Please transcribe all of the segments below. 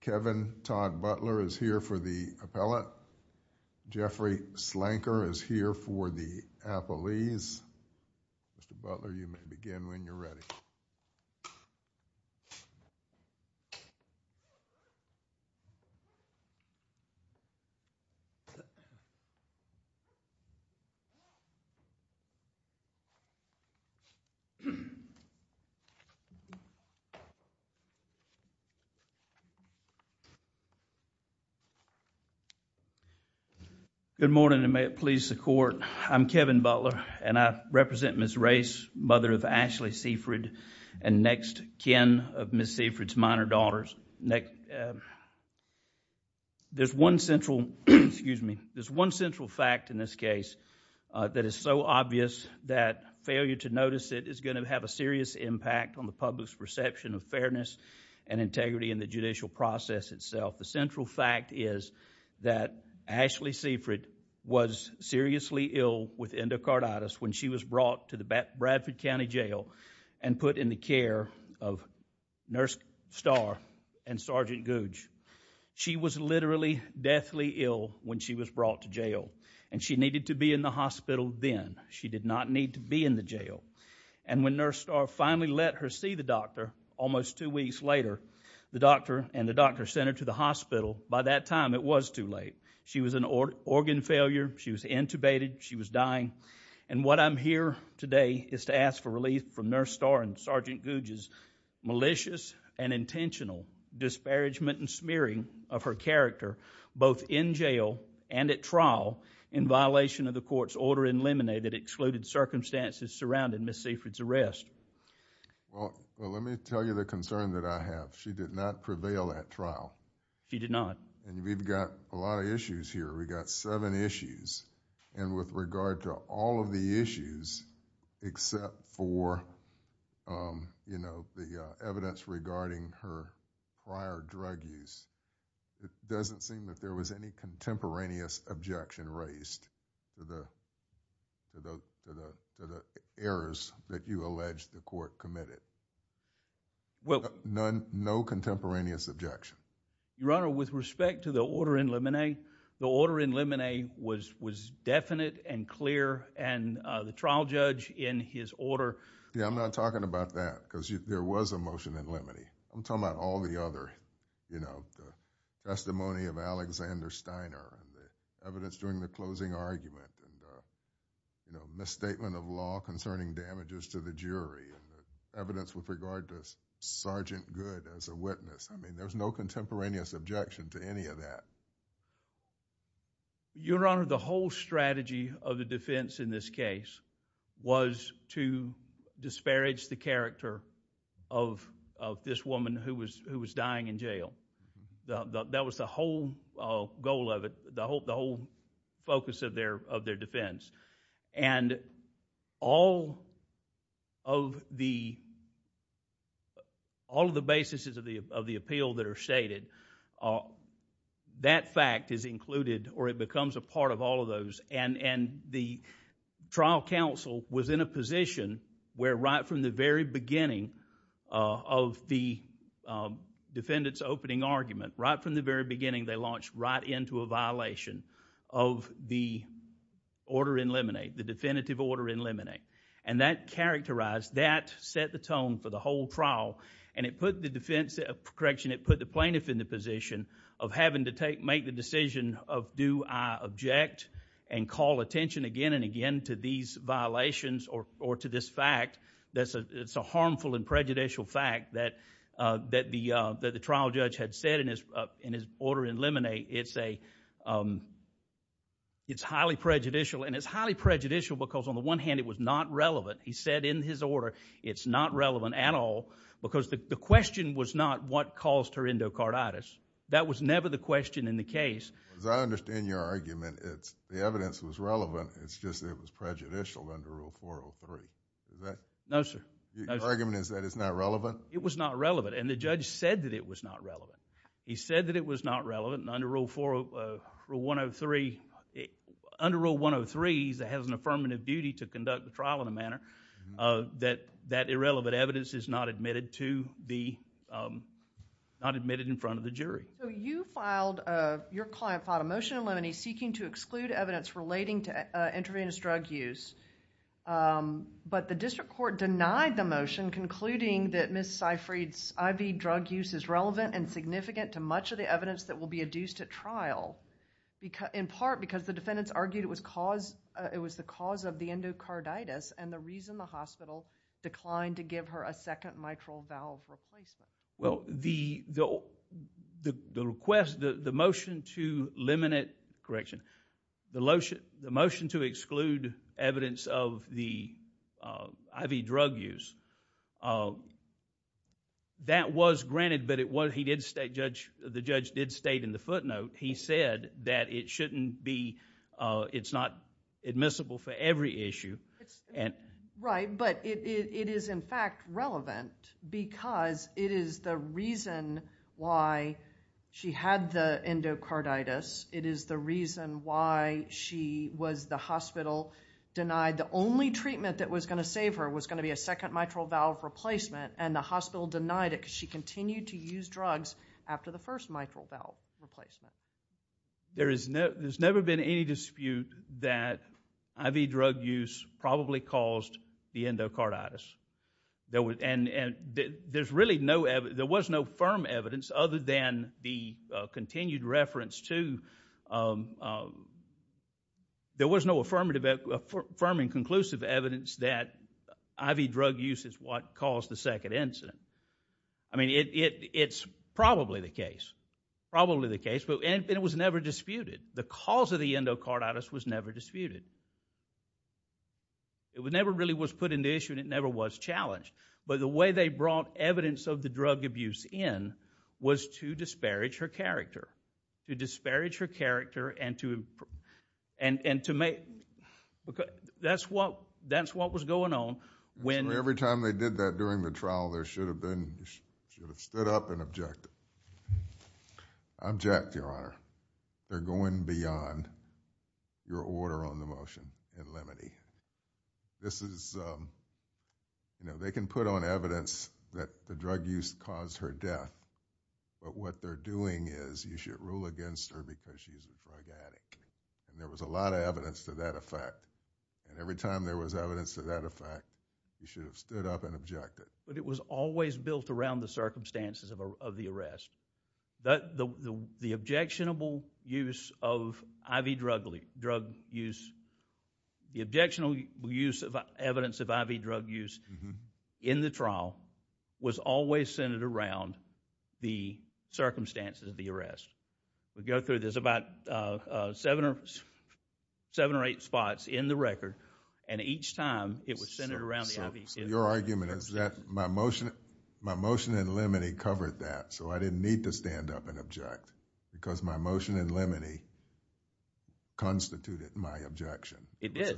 Kevin Todd Butler is here for the appellate Jeffrey Slanker is here for the appellee's Mr. Butler you may begin when you're ready. Good morning and may it please the court I'm Kevin Butler and I represent Ms. Race mother of Ashley Seaford and next Ken of Ms. Seaford's minor daughters. There's one central fact in this case that is so obvious that failure to notice it is going to have a serious impact on the public's perception of fairness and integrity in the judicial process itself. The central fact is that Ashley Seaford was seriously ill with endocarditis when she was brought to the Bradford County Jail and put in the care of Nurse Starr and Sergeant Gouge. She was literally deathly ill when she was brought to jail and she needed to be in the hospital then. She did not need to be in the jail and when Nurse Starr finally let her see the doctor almost two weeks later the doctor and the doctor sent her to the hospital by that time it was too late. She was an organ failure, she was intubated, she was dying and what I'm here today is to ask for relief from Nurse Starr and Sergeant Gouge's malicious and intentional disparagement and smearing of her character both in jail and at trial in violation of the court's order eliminated excluded circumstances surrounding Ms. Seaford's arrest. Well let me tell you the concern that I have. She did not prevail at trial. She did not. And we've got a lot of issues here. We've got seven issues and with regard to all of the issues except for the evidence regarding her prior drug use, it doesn't seem that there was any contemporaneous objection raised to the errors that you allege the court committed. No contemporaneous objection? Your Honor, with respect to the order in limine, the order in limine was definite and clear and the trial judge in his order... Yeah, I'm not talking about that because there was a motion in limine. I'm talking about all the other, you know, the testimony of Alexander Steiner, the evidence during the closing argument, the misstatement of law concerning damages to the jury, the evidence with regard to Sergeant Good as a witness. I mean there was no contemporaneous objection to any of that. Your Honor, the whole strategy of the defense in this case was to disparage the character of this woman who was dying in jail. That was the whole goal of it, the whole focus of their defense. All of the basis of the appeal that are stated, that fact is included or it becomes a part of all of those. The trial counsel was in a position where right from the very beginning of the defendant's opening argument, right from the very beginning they launched right into a violation of the order in limine, the definitive order in limine. That characterized, that set the tone for the whole trial and it put the plaintiff in the position of having to make the decision of do I object and call attention again and again to these violations or to this fact that's a harmful and prejudicial fact that the trial judge had said in his order in limine, it's highly prejudicial and it's highly prejudicial because on the one hand it was not relevant. He said in his order it's not relevant at all because the question was not what caused her endocarditis. That was never the question in the case. As I understand your argument, the evidence was relevant, it's just it was prejudicial under Rule 403. Is that... No, sir. Your argument is that it's not relevant? It was not relevant and the judge said that it was not relevant. He said that it was not relevant and under Rule 103, under Rule 103 it has an affirmative duty to conduct the trial in a manner that that irrelevant evidence is not admitted to the, not admitted in front of the jury. You filed, your client filed a motion in limine seeking to exclude evidence relating to intravenous drug use, but the district court denied the motion concluding that Ms. Seyfried's IV drug use is relevant and significant to much of the evidence that will be adduced at trial in part because the defendants argued it was the cause of the endocarditis and the reason the hospital declined to give her a second mitral valve replacement. Well, the request, the motion to eliminate, correction, the motion to exclude evidence of the IV drug use, that was granted, but the judge did state in the footnote, he said that it shouldn't be, it's not admissible for every issue and... It is the reason why she had the endocarditis. It is the reason why she was, the hospital denied, the only treatment that was going to save her was going to be a second mitral valve replacement and the hospital denied it because she continued to use drugs after the first mitral valve replacement. There is no, there's never been any dispute that IV drug use probably caused the endocarditis. There was, and there's really no, there was no firm evidence other than the continued reference to, there was no affirmative, firm and conclusive evidence that IV drug use is what caused the second incident. I mean, it's probably the case, probably the case, but it was never disputed. The cause of the endocarditis was never disputed. It never really was put in the issue and it never was challenged, but the way they brought evidence of the drug abuse in was to disparage her character, to disparage her character and to... That's what was going on when... Every time they did that during the trial, they should have been, should have stood up and objected. I object, Your Honor. They're going beyond your order on the motion in limine. This is, you know, they can put on evidence that the drug use caused her death, but what they're doing is you should rule against her because she's a drug addict. There was a lot of evidence to that effect and every time there was evidence to that effect, you should have stood up and objected. But it was always built around the circumstances of the arrest. The objectionable use of IV drug use, the objectionable use of evidence of IV drug use in the trial was always centered around the circumstances of the arrest. We go through, there's about seven or eight spots in the record and each time it was centered around the... Your argument is that my motion in limine covered that so I didn't need to stand up and object because my motion in limine constituted my objection. It did. It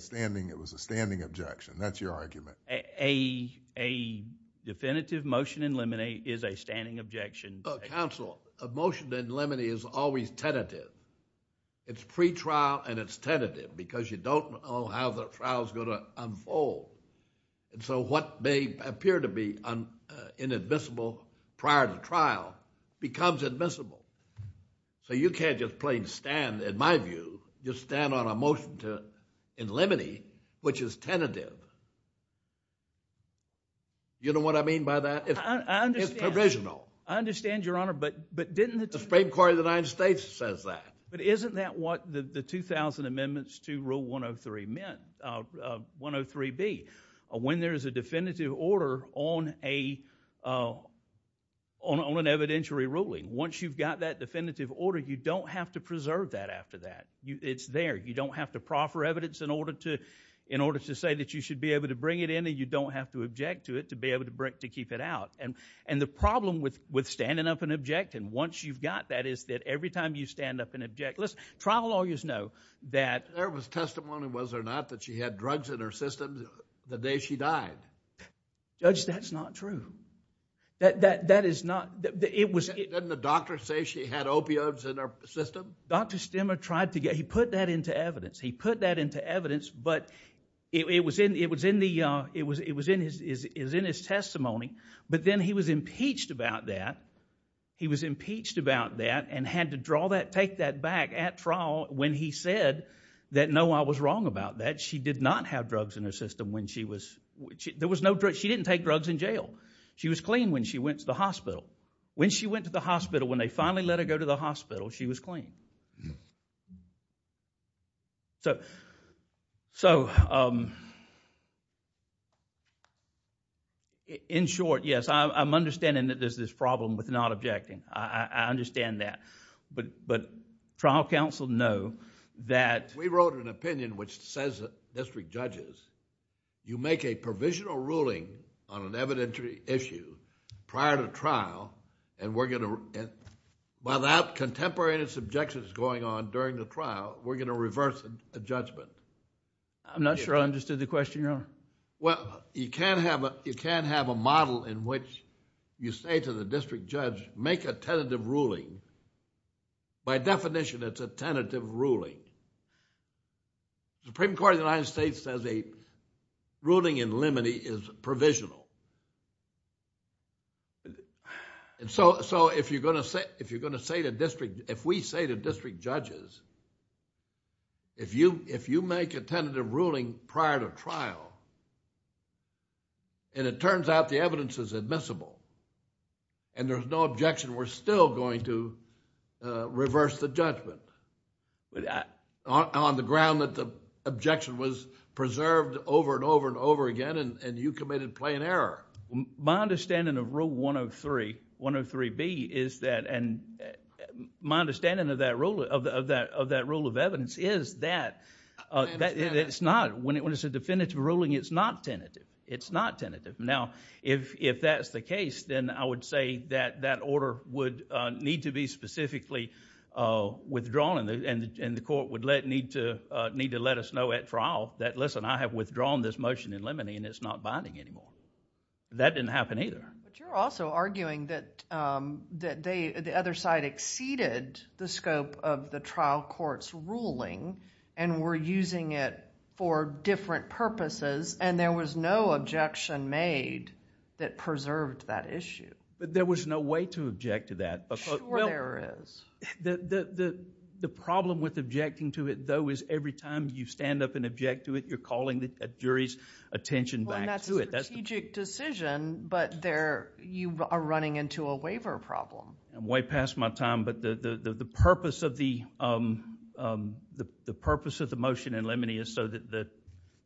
was a standing objection. That's your argument. A definitive motion in limine is a standing objection. Counsel, a motion in limine is always tentative. It's pretrial and it's tentative because you don't know how the trial is going to unfold. So what may appear to be inadmissible prior to trial becomes admissible. So you can't just plain stand, in my view, just stand on a motion in limine which is tentative. You know what I mean by that? I understand. It's provisional. I understand, Your Honor, but didn't... The Supreme Court of the United States says that. But isn't that what the 2000 Amendments to Rule 103 meant, 103B? When there's a definitive order on an evidentiary ruling, once you've got that definitive order, you don't have to preserve that after that. It's there. You don't have to proffer evidence in order to say that you should be able to bring it in and you don't have to object to it to be able to keep it out. And the problem with standing up and objecting, once you've got that, is that every time you stand up and object... Listen, trial lawyers know that... There was testimony, was there not, that she had drugs in her system the day she died. Judge, that's not true. That is not... Didn't the doctor say she had opioids in her system? Dr. Stemmer tried to get... He put that into evidence. He put that into evidence, but it was in his testimony. But then he was impeached about that. He was impeached about that and had to take that back at trial when he said that, no, I was wrong about that. She did not have drugs in her system when she was... She didn't take drugs in jail. She was clean when she went to the hospital. When she went to the hospital, when they finally let her go to the hospital, she was clean. In short, yes, I'm understanding that there's this problem with not objecting. I understand that, but trial counsel know that... We wrote an opinion which says that district judges, you make a provisional ruling on an evidentiary issue prior to trial and we're going to... Without contemporaneous objections going on during the trial, we're going to reverse a judgment. I'm not sure I understood the question, Your Honor. Well, you can't have a model in which you say to the district judge, make a tentative ruling. By definition, it's a tentative ruling. The Supreme Court of the United States says a ruling in limine is provisional. If you're going to say to district... If we say to district judges, if you make a tentative ruling prior to trial and it turns out the evidence is admissible and there's no objection, we're still going to reverse the judgment. On the ground that the objection was preserved over and over and over again and you committed plain error. My understanding of Rule 103B is that... My understanding of that rule of evidence is that... I understand that. It's not. When it's a definitive ruling, it's not tentative. It's not tentative. Now, if that's the case, then I would say that that order would need to be specifically withdrawn and the court would need to let us know at trial that, listen, I have withdrawn this motion in limine and it's not binding anymore. That didn't happen either. But you're also arguing that the other side exceeded the scope of the trial court's ruling and were using it for different purposes and there was no objection made that preserved that issue. There was no way to object to that. Sure there is. The problem with objecting to it, though, is every time you stand up and object to it, you're calling the jury's attention back to it. That's a strategic decision, but you are running into a waiver problem. I'm way past my time, but the purpose of the motion in limine is so that the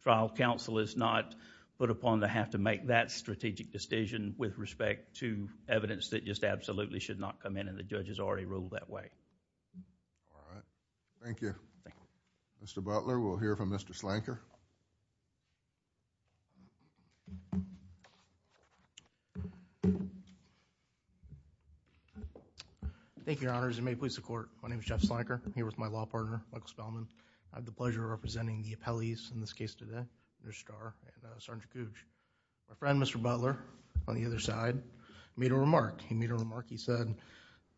trial counsel is not put upon to have to make that strategic decision with respect to evidence that just absolutely should not come in and the judge has already ruled that way. All right. Thank you. Thank you. Mr. Butler, we'll hear from Mr. Slanker. Thank you, Your Honors, and may it please the court. My name is Jeff Slanker. I'm here with my law partner, Michael Spellman. I have the pleasure of representing the appellees in this case today. They're Star and Sergeant Cooch. My friend, Mr. Butler, on the other side, made a remark. He made a remark. He said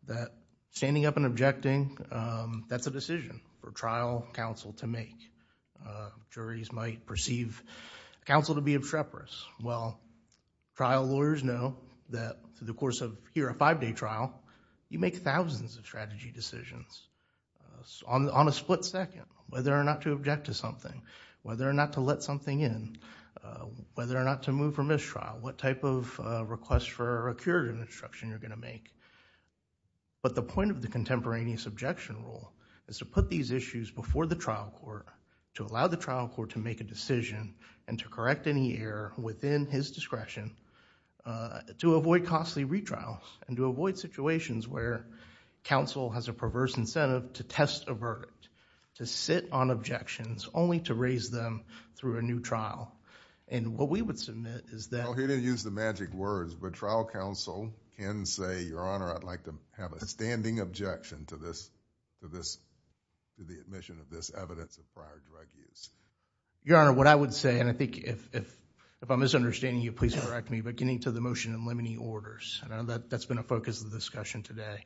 that standing up and objecting, that's a decision for trial counsel to make. Juries might perceive counsel to be obstreperous. Well, trial lawyers know that through the course of, here, a five-day trial, you make thousands of strategy decisions on a split second, whether or not to object to something, whether or not to let something in, whether or not to move from this trial, what type of request for a curative instruction you're going to make. The point of the contemporaneous objection rule is to put these issues before the trial court, to allow the trial court to make a decision and to correct any error within his discretion, to avoid costly retrials and to avoid situations where counsel has a perverse incentive to test a verdict, to sit on objections, only to raise them through a new trial. What we would submit is that... He didn't use the magic words, but trial counsel can say, Your Honor, I'd like to have a standing objection to this, to the admission of this evidence of prior drug use. Your Honor, what I would say, and I think if I'm misunderstanding you, please correct me, but getting to the motion and limiting orders, I know that's been a focus of the discussion today,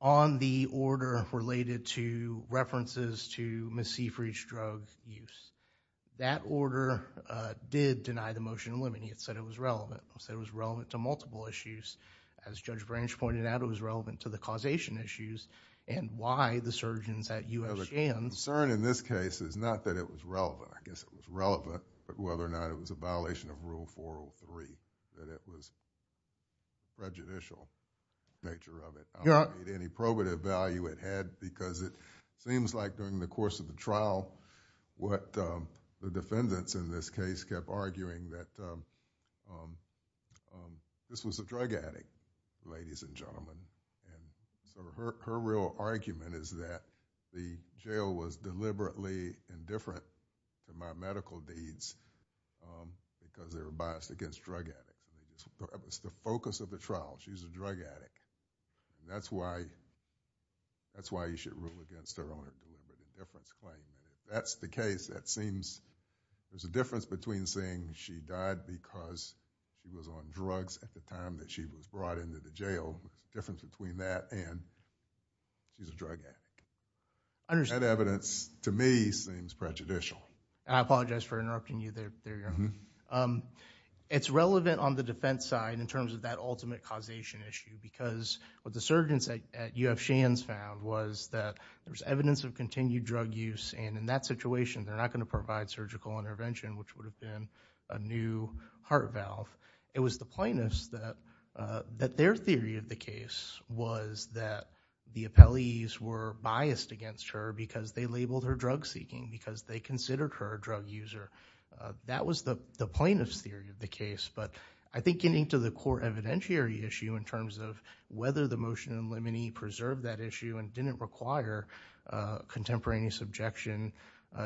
on the order related to references to Ms. Seyfried's drug use. That order did deny the motion of limiting. It said it was relevant. It said it was relevant to multiple issues. As Judge Branch pointed out, it was relevant to the causation issues and why the surgeons at U.S. Shands... The concern in this case is not that it was relevant. I guess it was relevant, but whether or not it was a violation of Rule 403, that it was prejudicial, the nature of it. I don't need any probative value it had because it seems like during the course of the trial, what the defendants in this case kept arguing that this was a drug addict, ladies and gentlemen. Her real argument is that the jail was deliberately indifferent to my claim. It's the focus of the trial. She's a drug addict. That's why you should rule against her on a deliberate indifference claim. That's the case. There's a difference between saying she died because she was on drugs at the time that she was brought into the jail. There's a difference between that and she's a drug addict. That evidence, to me, seems prejudicial. I apologize for interrupting you there, Your Honor. It's relevant on the defense side in terms of that ultimate causation issue because what the surgeons at UF Shands found was that there's evidence of continued drug use and in that situation, they're not going to provide surgical intervention, which would have been a new heart valve. It was the plaintiffs that their theory of the case was that the appellees were biased against her because they labeled her drug seeking, because they considered her a drug user. That was the plaintiff's theory of the case, but I think getting to the court evidentiary issue in terms of whether the motion in limine preserve that issue and didn't require contemporaneous objection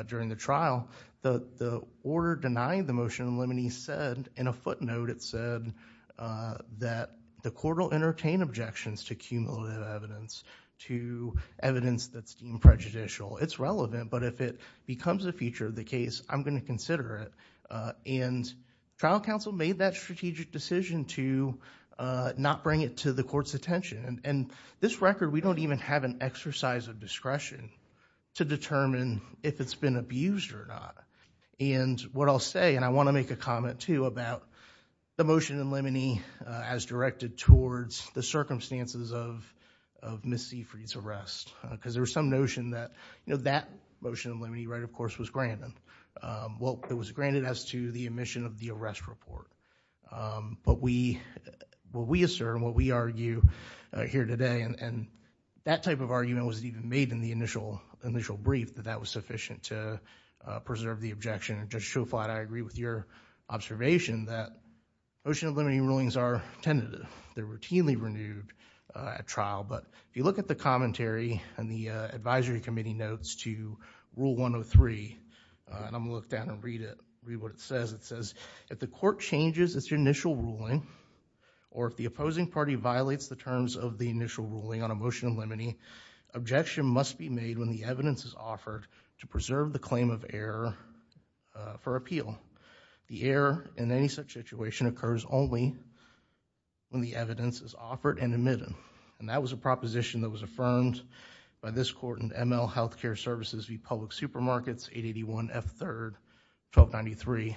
during the trial, the order denying the motion in limine said, in a footnote, it said that the court will entertain objections to cumulative evidence, to evidence that's deemed prejudicial. It's relevant, but if it becomes a feature of the case, I'm going to reconsider it. Trial counsel made that strategic decision to not bring it to the court's attention. This record, we don't even have an exercise of discretion to determine if it's been abused or not. What I'll say, and I want to make a comment too about the motion in limine as directed towards the circumstances of Ms. Seafried's arrest because there was no help that was granted as to the admission of the arrest report. What we assert and what we argue here today, and that type of argument wasn't even made in the initial brief, that that was sufficient to preserve the objection. Judge Schofield, I agree with your observation that motion in limine rulings are tentative. They're routinely renewed at trial, but if you look at the If the court changes its initial ruling or if the opposing party violates the terms of the initial ruling on a motion in limine, objection must be made when the evidence is offered to preserve the claim of error for appeal. The error in any such situation occurs only when the evidence is offered and admitted. That was a proposition that was affirmed by this court in ML Healthcare Services v. Public Supermarkets, 881 F. 3rd, 1293.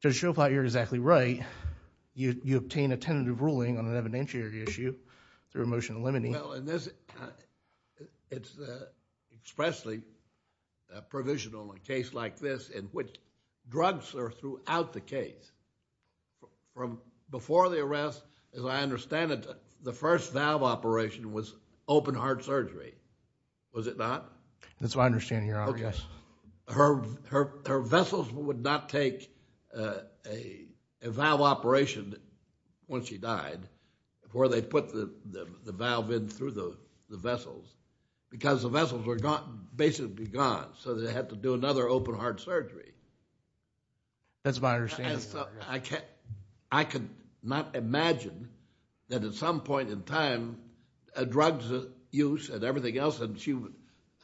Judge Schofield, you're exactly right. You obtain a tentative ruling on an evidentiary issue through a motion in limine. Well, it's expressly provisional in a case like this in which drugs are throughout the case. Before the arrest, as I understand it, the first valve operation was open heart surgery. Was it not? That's what I understand, Your Honor, yes. Okay. Her vessels would not take a valve operation when she died before they put the valve in through the vessels because the vessels were basically gone, so they had to do another open heart surgery. That's what I understand. I cannot imagine that at some point in time a drug's use and everything else, and she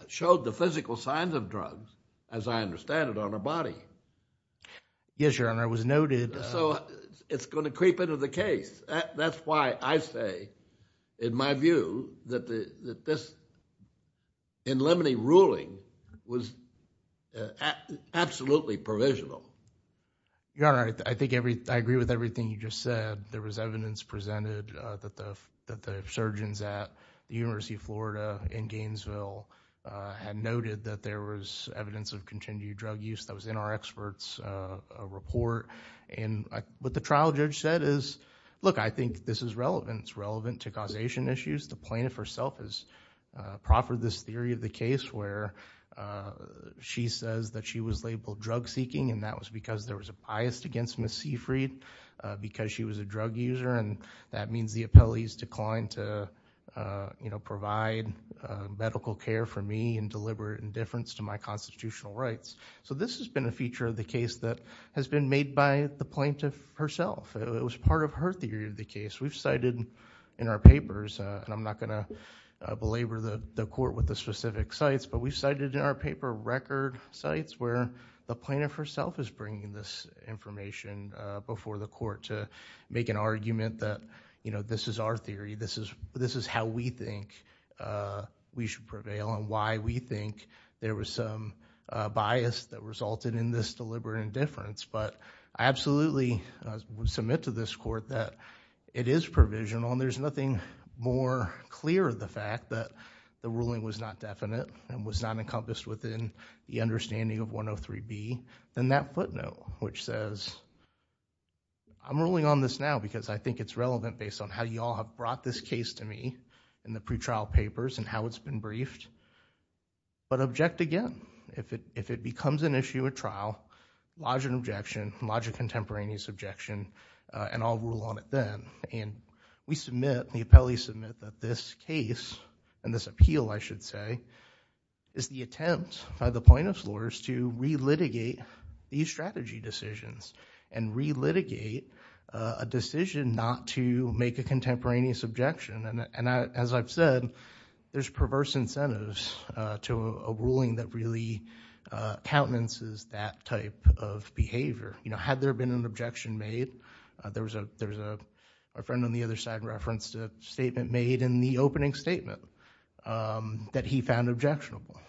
showed the physical signs of drugs, as I understand it, on her body. Yes, Your Honor, it was noted. So it's going to creep into the case. That's why I say, in my view, that this in limine ruling was absolutely provisional. Your Honor, I agree with everything you just said. There was evidence presented that the surgeons at the University of Florida in Gainesville had noted that there was evidence of continued drug use that was in our expert's report. What the trial judge said is, look, I think this is relevant. It's relevant to causation issues. The plaintiff herself has proffered this theory of the case where she says that she was labeled drug seeking, and that was because there was a bias against Ms. Seyfried because she was a drug user, and that means the appellees declined to provide medical care for me in deliberate indifference to my constitutional rights. This has been a feature of the case that has been made by the plaintiff herself. It was part of her theory of the case. We've cited in our papers, and I'm not going to belabor the court with the plaintiff herself is bringing this information before the court to make an argument that this is our theory. This is how we think we should prevail and why we think there was some bias that resulted in this deliberate indifference. I absolutely submit to this court that it is provisional, and there's nothing more clear of the fact that the ruling was not definite and was not encompassed within the understanding of 103B than that footnote, which says I'm ruling on this now because I think it's relevant based on how you all have brought this case to me in the pretrial papers and how it's been briefed, but object again. If it becomes an issue at trial, lodge an objection, lodge a contemporaneous objection, and I'll rule on it then. We submit, the appellees submit, that this case and this appeal, I should say, is the attempt by the plaintiff's lawyers to re-litigate these strategy decisions and re-litigate a decision not to make a contemporaneous objection. As I've said, there's perverse incentives to a ruling that really countenances that type of behavior. Had there been an objection made, there's a friend on the other side referenced a statement made in the opening statement that he found objectionable.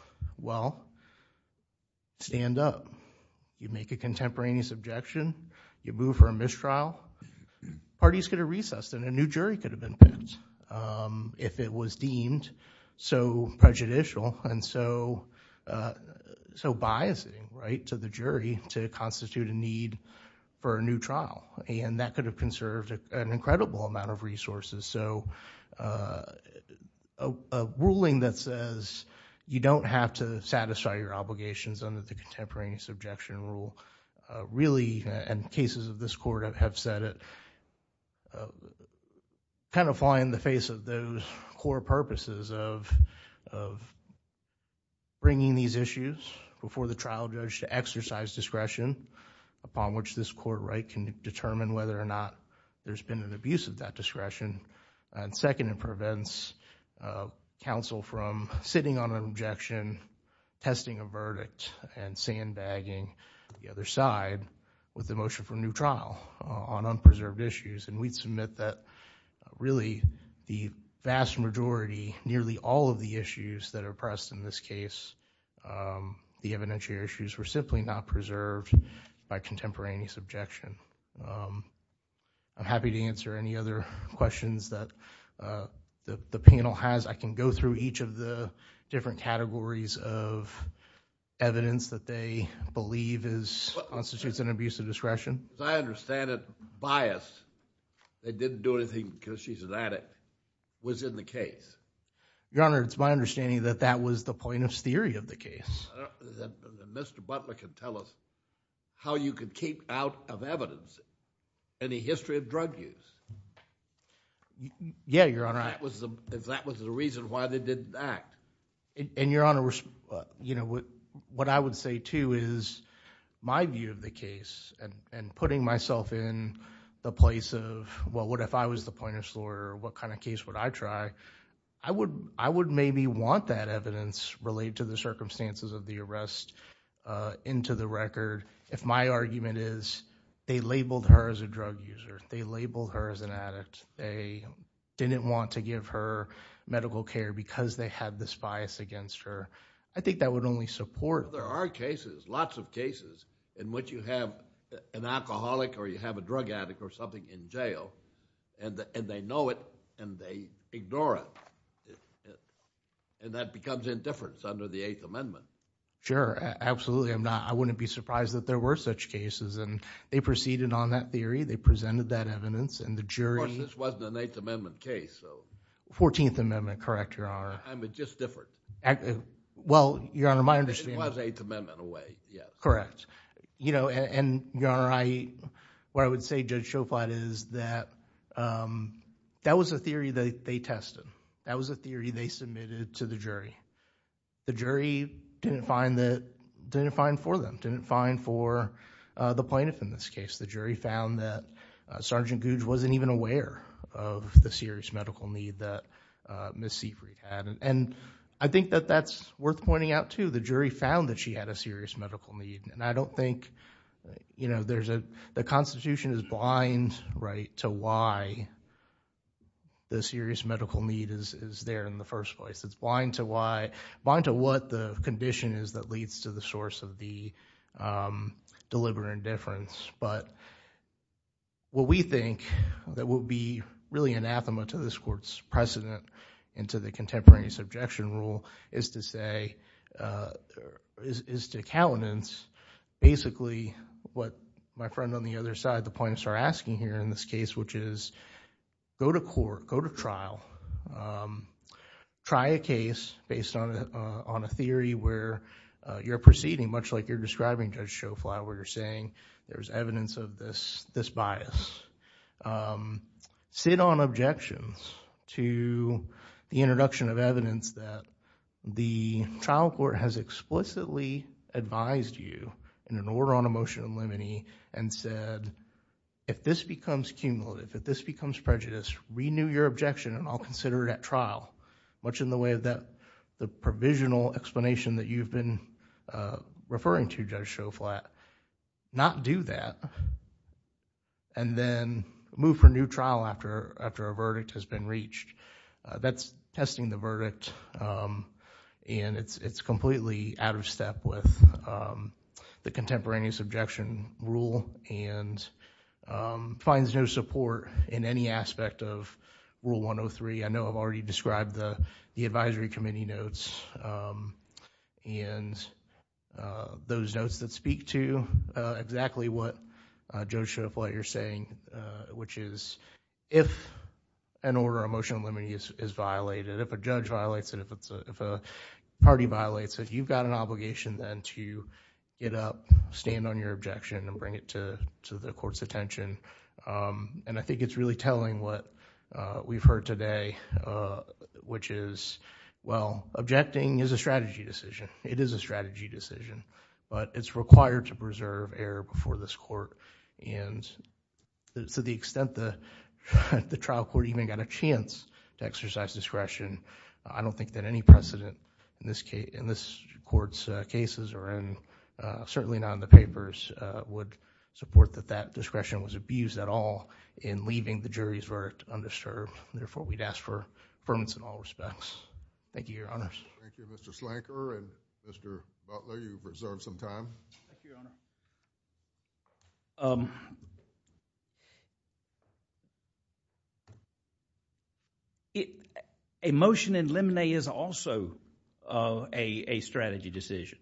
Well, stand up. You make a contemporaneous objection, you move for a mistrial, parties could have recessed and a new jury could have been picked if it was deemed so need for a new trial, and that could have conserved an incredible amount of resources. A ruling that says you don't have to satisfy your obligations under the contemporaneous objection rule really, and cases of this court have said it, kind of fly in the face of those core purposes of bringing these issues before the trial judge to exercise discretion upon which this court can determine whether or not there's been an abuse of that discretion. Second, it prevents counsel from sitting on an objection, testing a verdict and sandbagging the other side with the motion for a new trial on unpreserved issues. We'd submit that really the vast majority, nearly all of the issues that were presented in the evidence here were simply not preserved by contemporaneous objection. I'm happy to answer any other questions that the panel has. I can go through each of the different categories of evidence that they believe constitutes an abuse of discretion. I understand that bias, they didn't do anything because she's an addict, was in the case. Your Honor, it's my understanding that that was the plaintiff's theory of the case. Mr. Butler can tell us how you can keep out of evidence any history of drug use. Yeah, Your Honor. If that was the reason why they didn't act. Your Honor, what I would say too is my view of the case and putting myself in the place of, well, what if I was the plaintiff's lawyer, what kind of case would I try? I would maybe want that evidence related to the circumstances of the arrest into the record if my argument is they labeled her as a drug user, they labeled her as an addict, they didn't want to give her medical care because they had this bias against her. I think that would only support... There are cases, lots of cases, in which you have an alcoholic or you have a drug user. I think that would support it. That becomes indifference under the Eighth Amendment. Sure. Absolutely. I'm not... I wouldn't be surprised if there were such cases and they proceeded on that theory, they presented that evidence and the jury... Of course, this wasn't an Eighth Amendment case, so... Fourteenth Amendment, correct, Your Honor. I mean, just different. Well, Your Honor, my understanding... It was Eighth Amendment away, yes. Correct. Your Honor, what I would say, Judge Schofield, is that that was a theory that they tested. That was a theory they submitted to the jury. The jury didn't find for them, didn't find for the plaintiff in this case. The jury found that Sergeant Gouge wasn't even aware of the serious medical need that Ms. Sievery had. I think that that's worth pointing out, too. The jury found that she had a serious medical need. I don't think... the Constitution is blind to why the serious medical need is there in the first place. It's blind to what the condition is that leads to the source of the deliberate indifference. What we think that would be really anathema to this Court's precedent into the contemporaneous objection rule is to say... is to countenance basically what my friend on the other side, the plaintiffs are asking here in this case, which is go to court, go to trial, try a case based on a theory where you're proceeding, much like you're describing, Judge Schofield, where you're saying there's evidence of this bias. Sit on objections to the introduction of evidence that the trial court has explicitly advised you in an order on a motion of limine and said, if this becomes cumulative, if this becomes prejudice, renew your objection and I'll consider it at trial, much in the way of the provisional explanation that you've been referring to, Judge Schofield. Not do that and then move for new trial after a verdict has been reached. That's testing the verdict and it's completely out of step with the contemporaneous objection rule and finds no support in any aspect of Rule 103. I know I've already described the advisory committee notes and those that speak to exactly what Judge Schofield, what you're saying, which is if an order on a motion of limine is violated, if a judge violates it, if a party violates it, you've got an obligation then to get up, stand on your objection and bring it to the court's attention. I think it's really telling what we've heard today, which is, well, objecting is a strategy decision. It is a strategy decision, but it's required to preserve error before this court. To the extent that the trial court even got a chance to exercise discretion, I don't think that any precedent in this court's cases or certainly not in the papers would support that that discretion was abused at all in leaving the jury's verdict undisturbed. Therefore, we'd ask for affirmance in all respects. Thank you, Your Honors. Thank you, Mr. Slanker. Mr. Butler, you've reserved some time. Thank you, Your Honor. A motion in limine is also a strategy decision.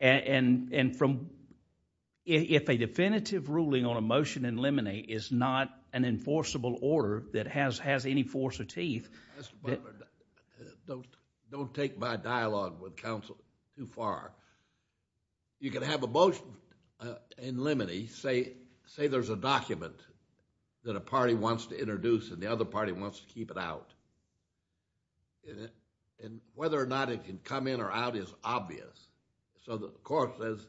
If a definitive ruling on a motion in limine is not an enforceable order that has any force of teeth... Mr. Butler, don't take my dialogue with counsel too far. You can have a motion in limine, say there's a document that a party wants to introduce and the other party wants to keep it out. Whether or not it can come in or out is obvious. The court says,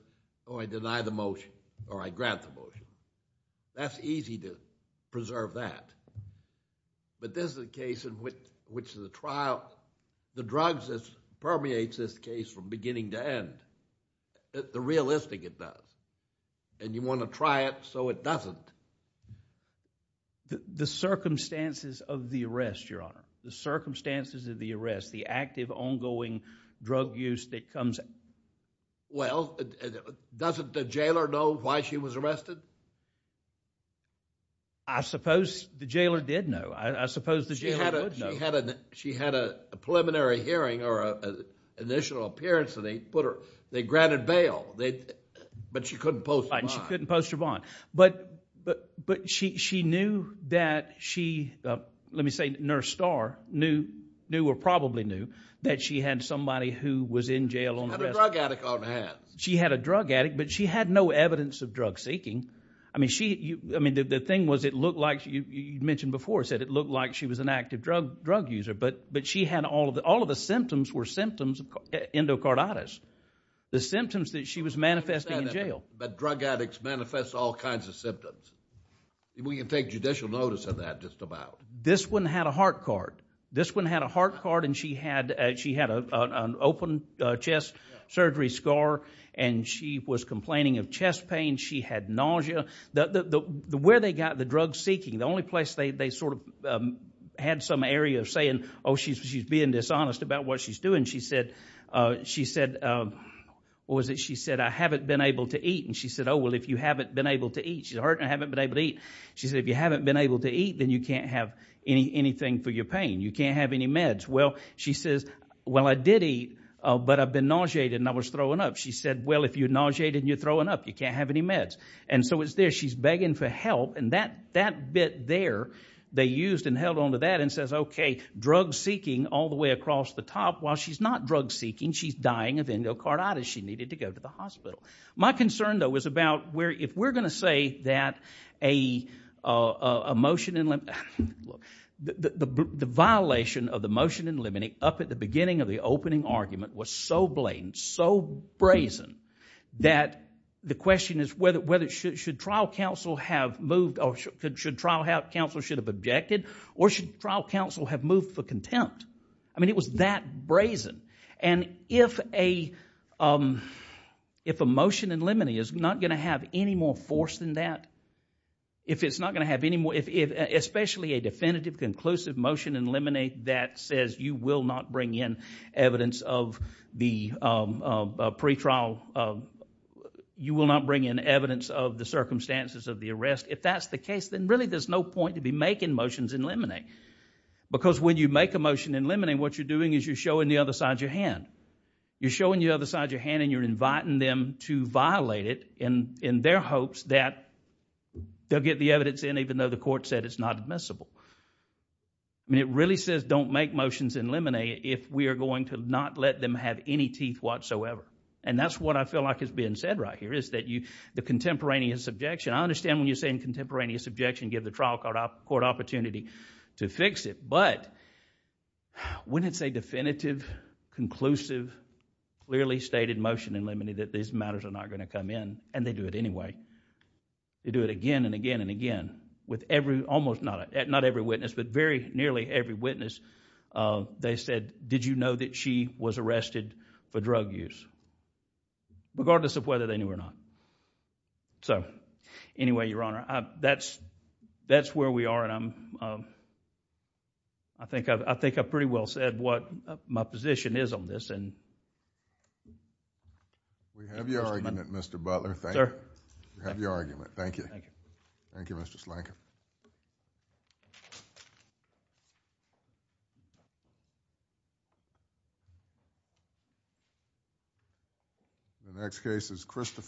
oh, I deny the motion or I grant the motion. That's easy to preserve that. This is a case in which the trial... the drugs that permeate this case from beginning to end, the realistic it does. You want to try it so it doesn't. The circumstances of the arrest, Your Honor, the circumstances of the arrest, the active ongoing drug use that comes... Well, doesn't the jailer know why she was arrested? I suppose the jailer did know. I suppose the jailer would know. She had a preliminary hearing or an initial appearance and they put her... they granted bail, but she couldn't post her bond. She couldn't post her bond. But she knew that she... let me say Nurse Starr knew or probably knew that she had somebody who was in jail on the list. She had a drug addict on her hands. She had a drug addict, but she had no evidence of drug seeking. I mean, the thing was it looked like... you mentioned before, you said it looked like she was an active drug user, but she had all of the symptoms were symptoms of endocarditis, the symptoms that she was manifesting in jail. But drug addicts manifest all kinds of symptoms. We can take judicial notice of that just about. This one had a heart card. This one had a heart card and she had an open chest surgery scar and she was complaining of chest pain. She had nausea. Where they got the drug seeking, the only place they sort of had some area of saying, oh, she's being dishonest about what she's doing. She said, what was it she said, I haven't been able to eat. And she said, oh, well, if you haven't been able to eat... She said, I haven't been able to eat. She said, if you haven't been able to eat, then you can't have anything for your pain. You can't have any meds. Well, she says, well, I did eat, but I've been nauseated and I was throwing up. She said, well, if you're nauseated and you're throwing up, you can't have any meds. And so it's there. She's begging for help and that bit there, they used and held onto that and says, okay, drug seeking all the way across the top. While she's not drug seeking, she's dying of endocarditis. She needed to go to the hospital. My concern, though, was about if we're going to say that a motion in lim... The violation of the motion in limine up at the beginning of the opening argument was so blatant, so brazen, that the question is whether it should trial counsel have moved or should trial counsel have objected or should trial counsel have moved for contempt. And if a motion in limine is not going to have any more force than that, if it's not going to have any more... Especially a definitive, conclusive motion in limine that says you will not bring in evidence of the pretrial... You will not bring in evidence of the circumstances of the arrest, if that's the case, then really there's no point to be making motions in limine. Because when you make a motion in limine, what you're doing is you're showing the other side of your hand. You're showing the other side of your hand and you're inviting them to violate it in their hopes that they'll get the evidence in even though the court said it's not admissible. It really says don't make motions in limine if we are going to not let them have any teeth whatsoever. And that's what I feel like is being said right here is that the contemporaneous objection... I understand when you're saying contemporaneous objection give the trial court opportunity to fix it, but when it's a definitive, conclusive, clearly stated motion in limine that these matters are not going to come in and they do it anyway. They do it again and again and again with every, almost, not every witness, but very nearly every witness, they said, did you know that she was arrested for drug use? Regardless of whether they knew or not. So, anyway, Your Honor, that's where we are and I'm... We have your argument, Mr. Butler. Sir. We have your argument. Thank you. Thank you. Thank you, Mr. Slanker. The next case is Christopher...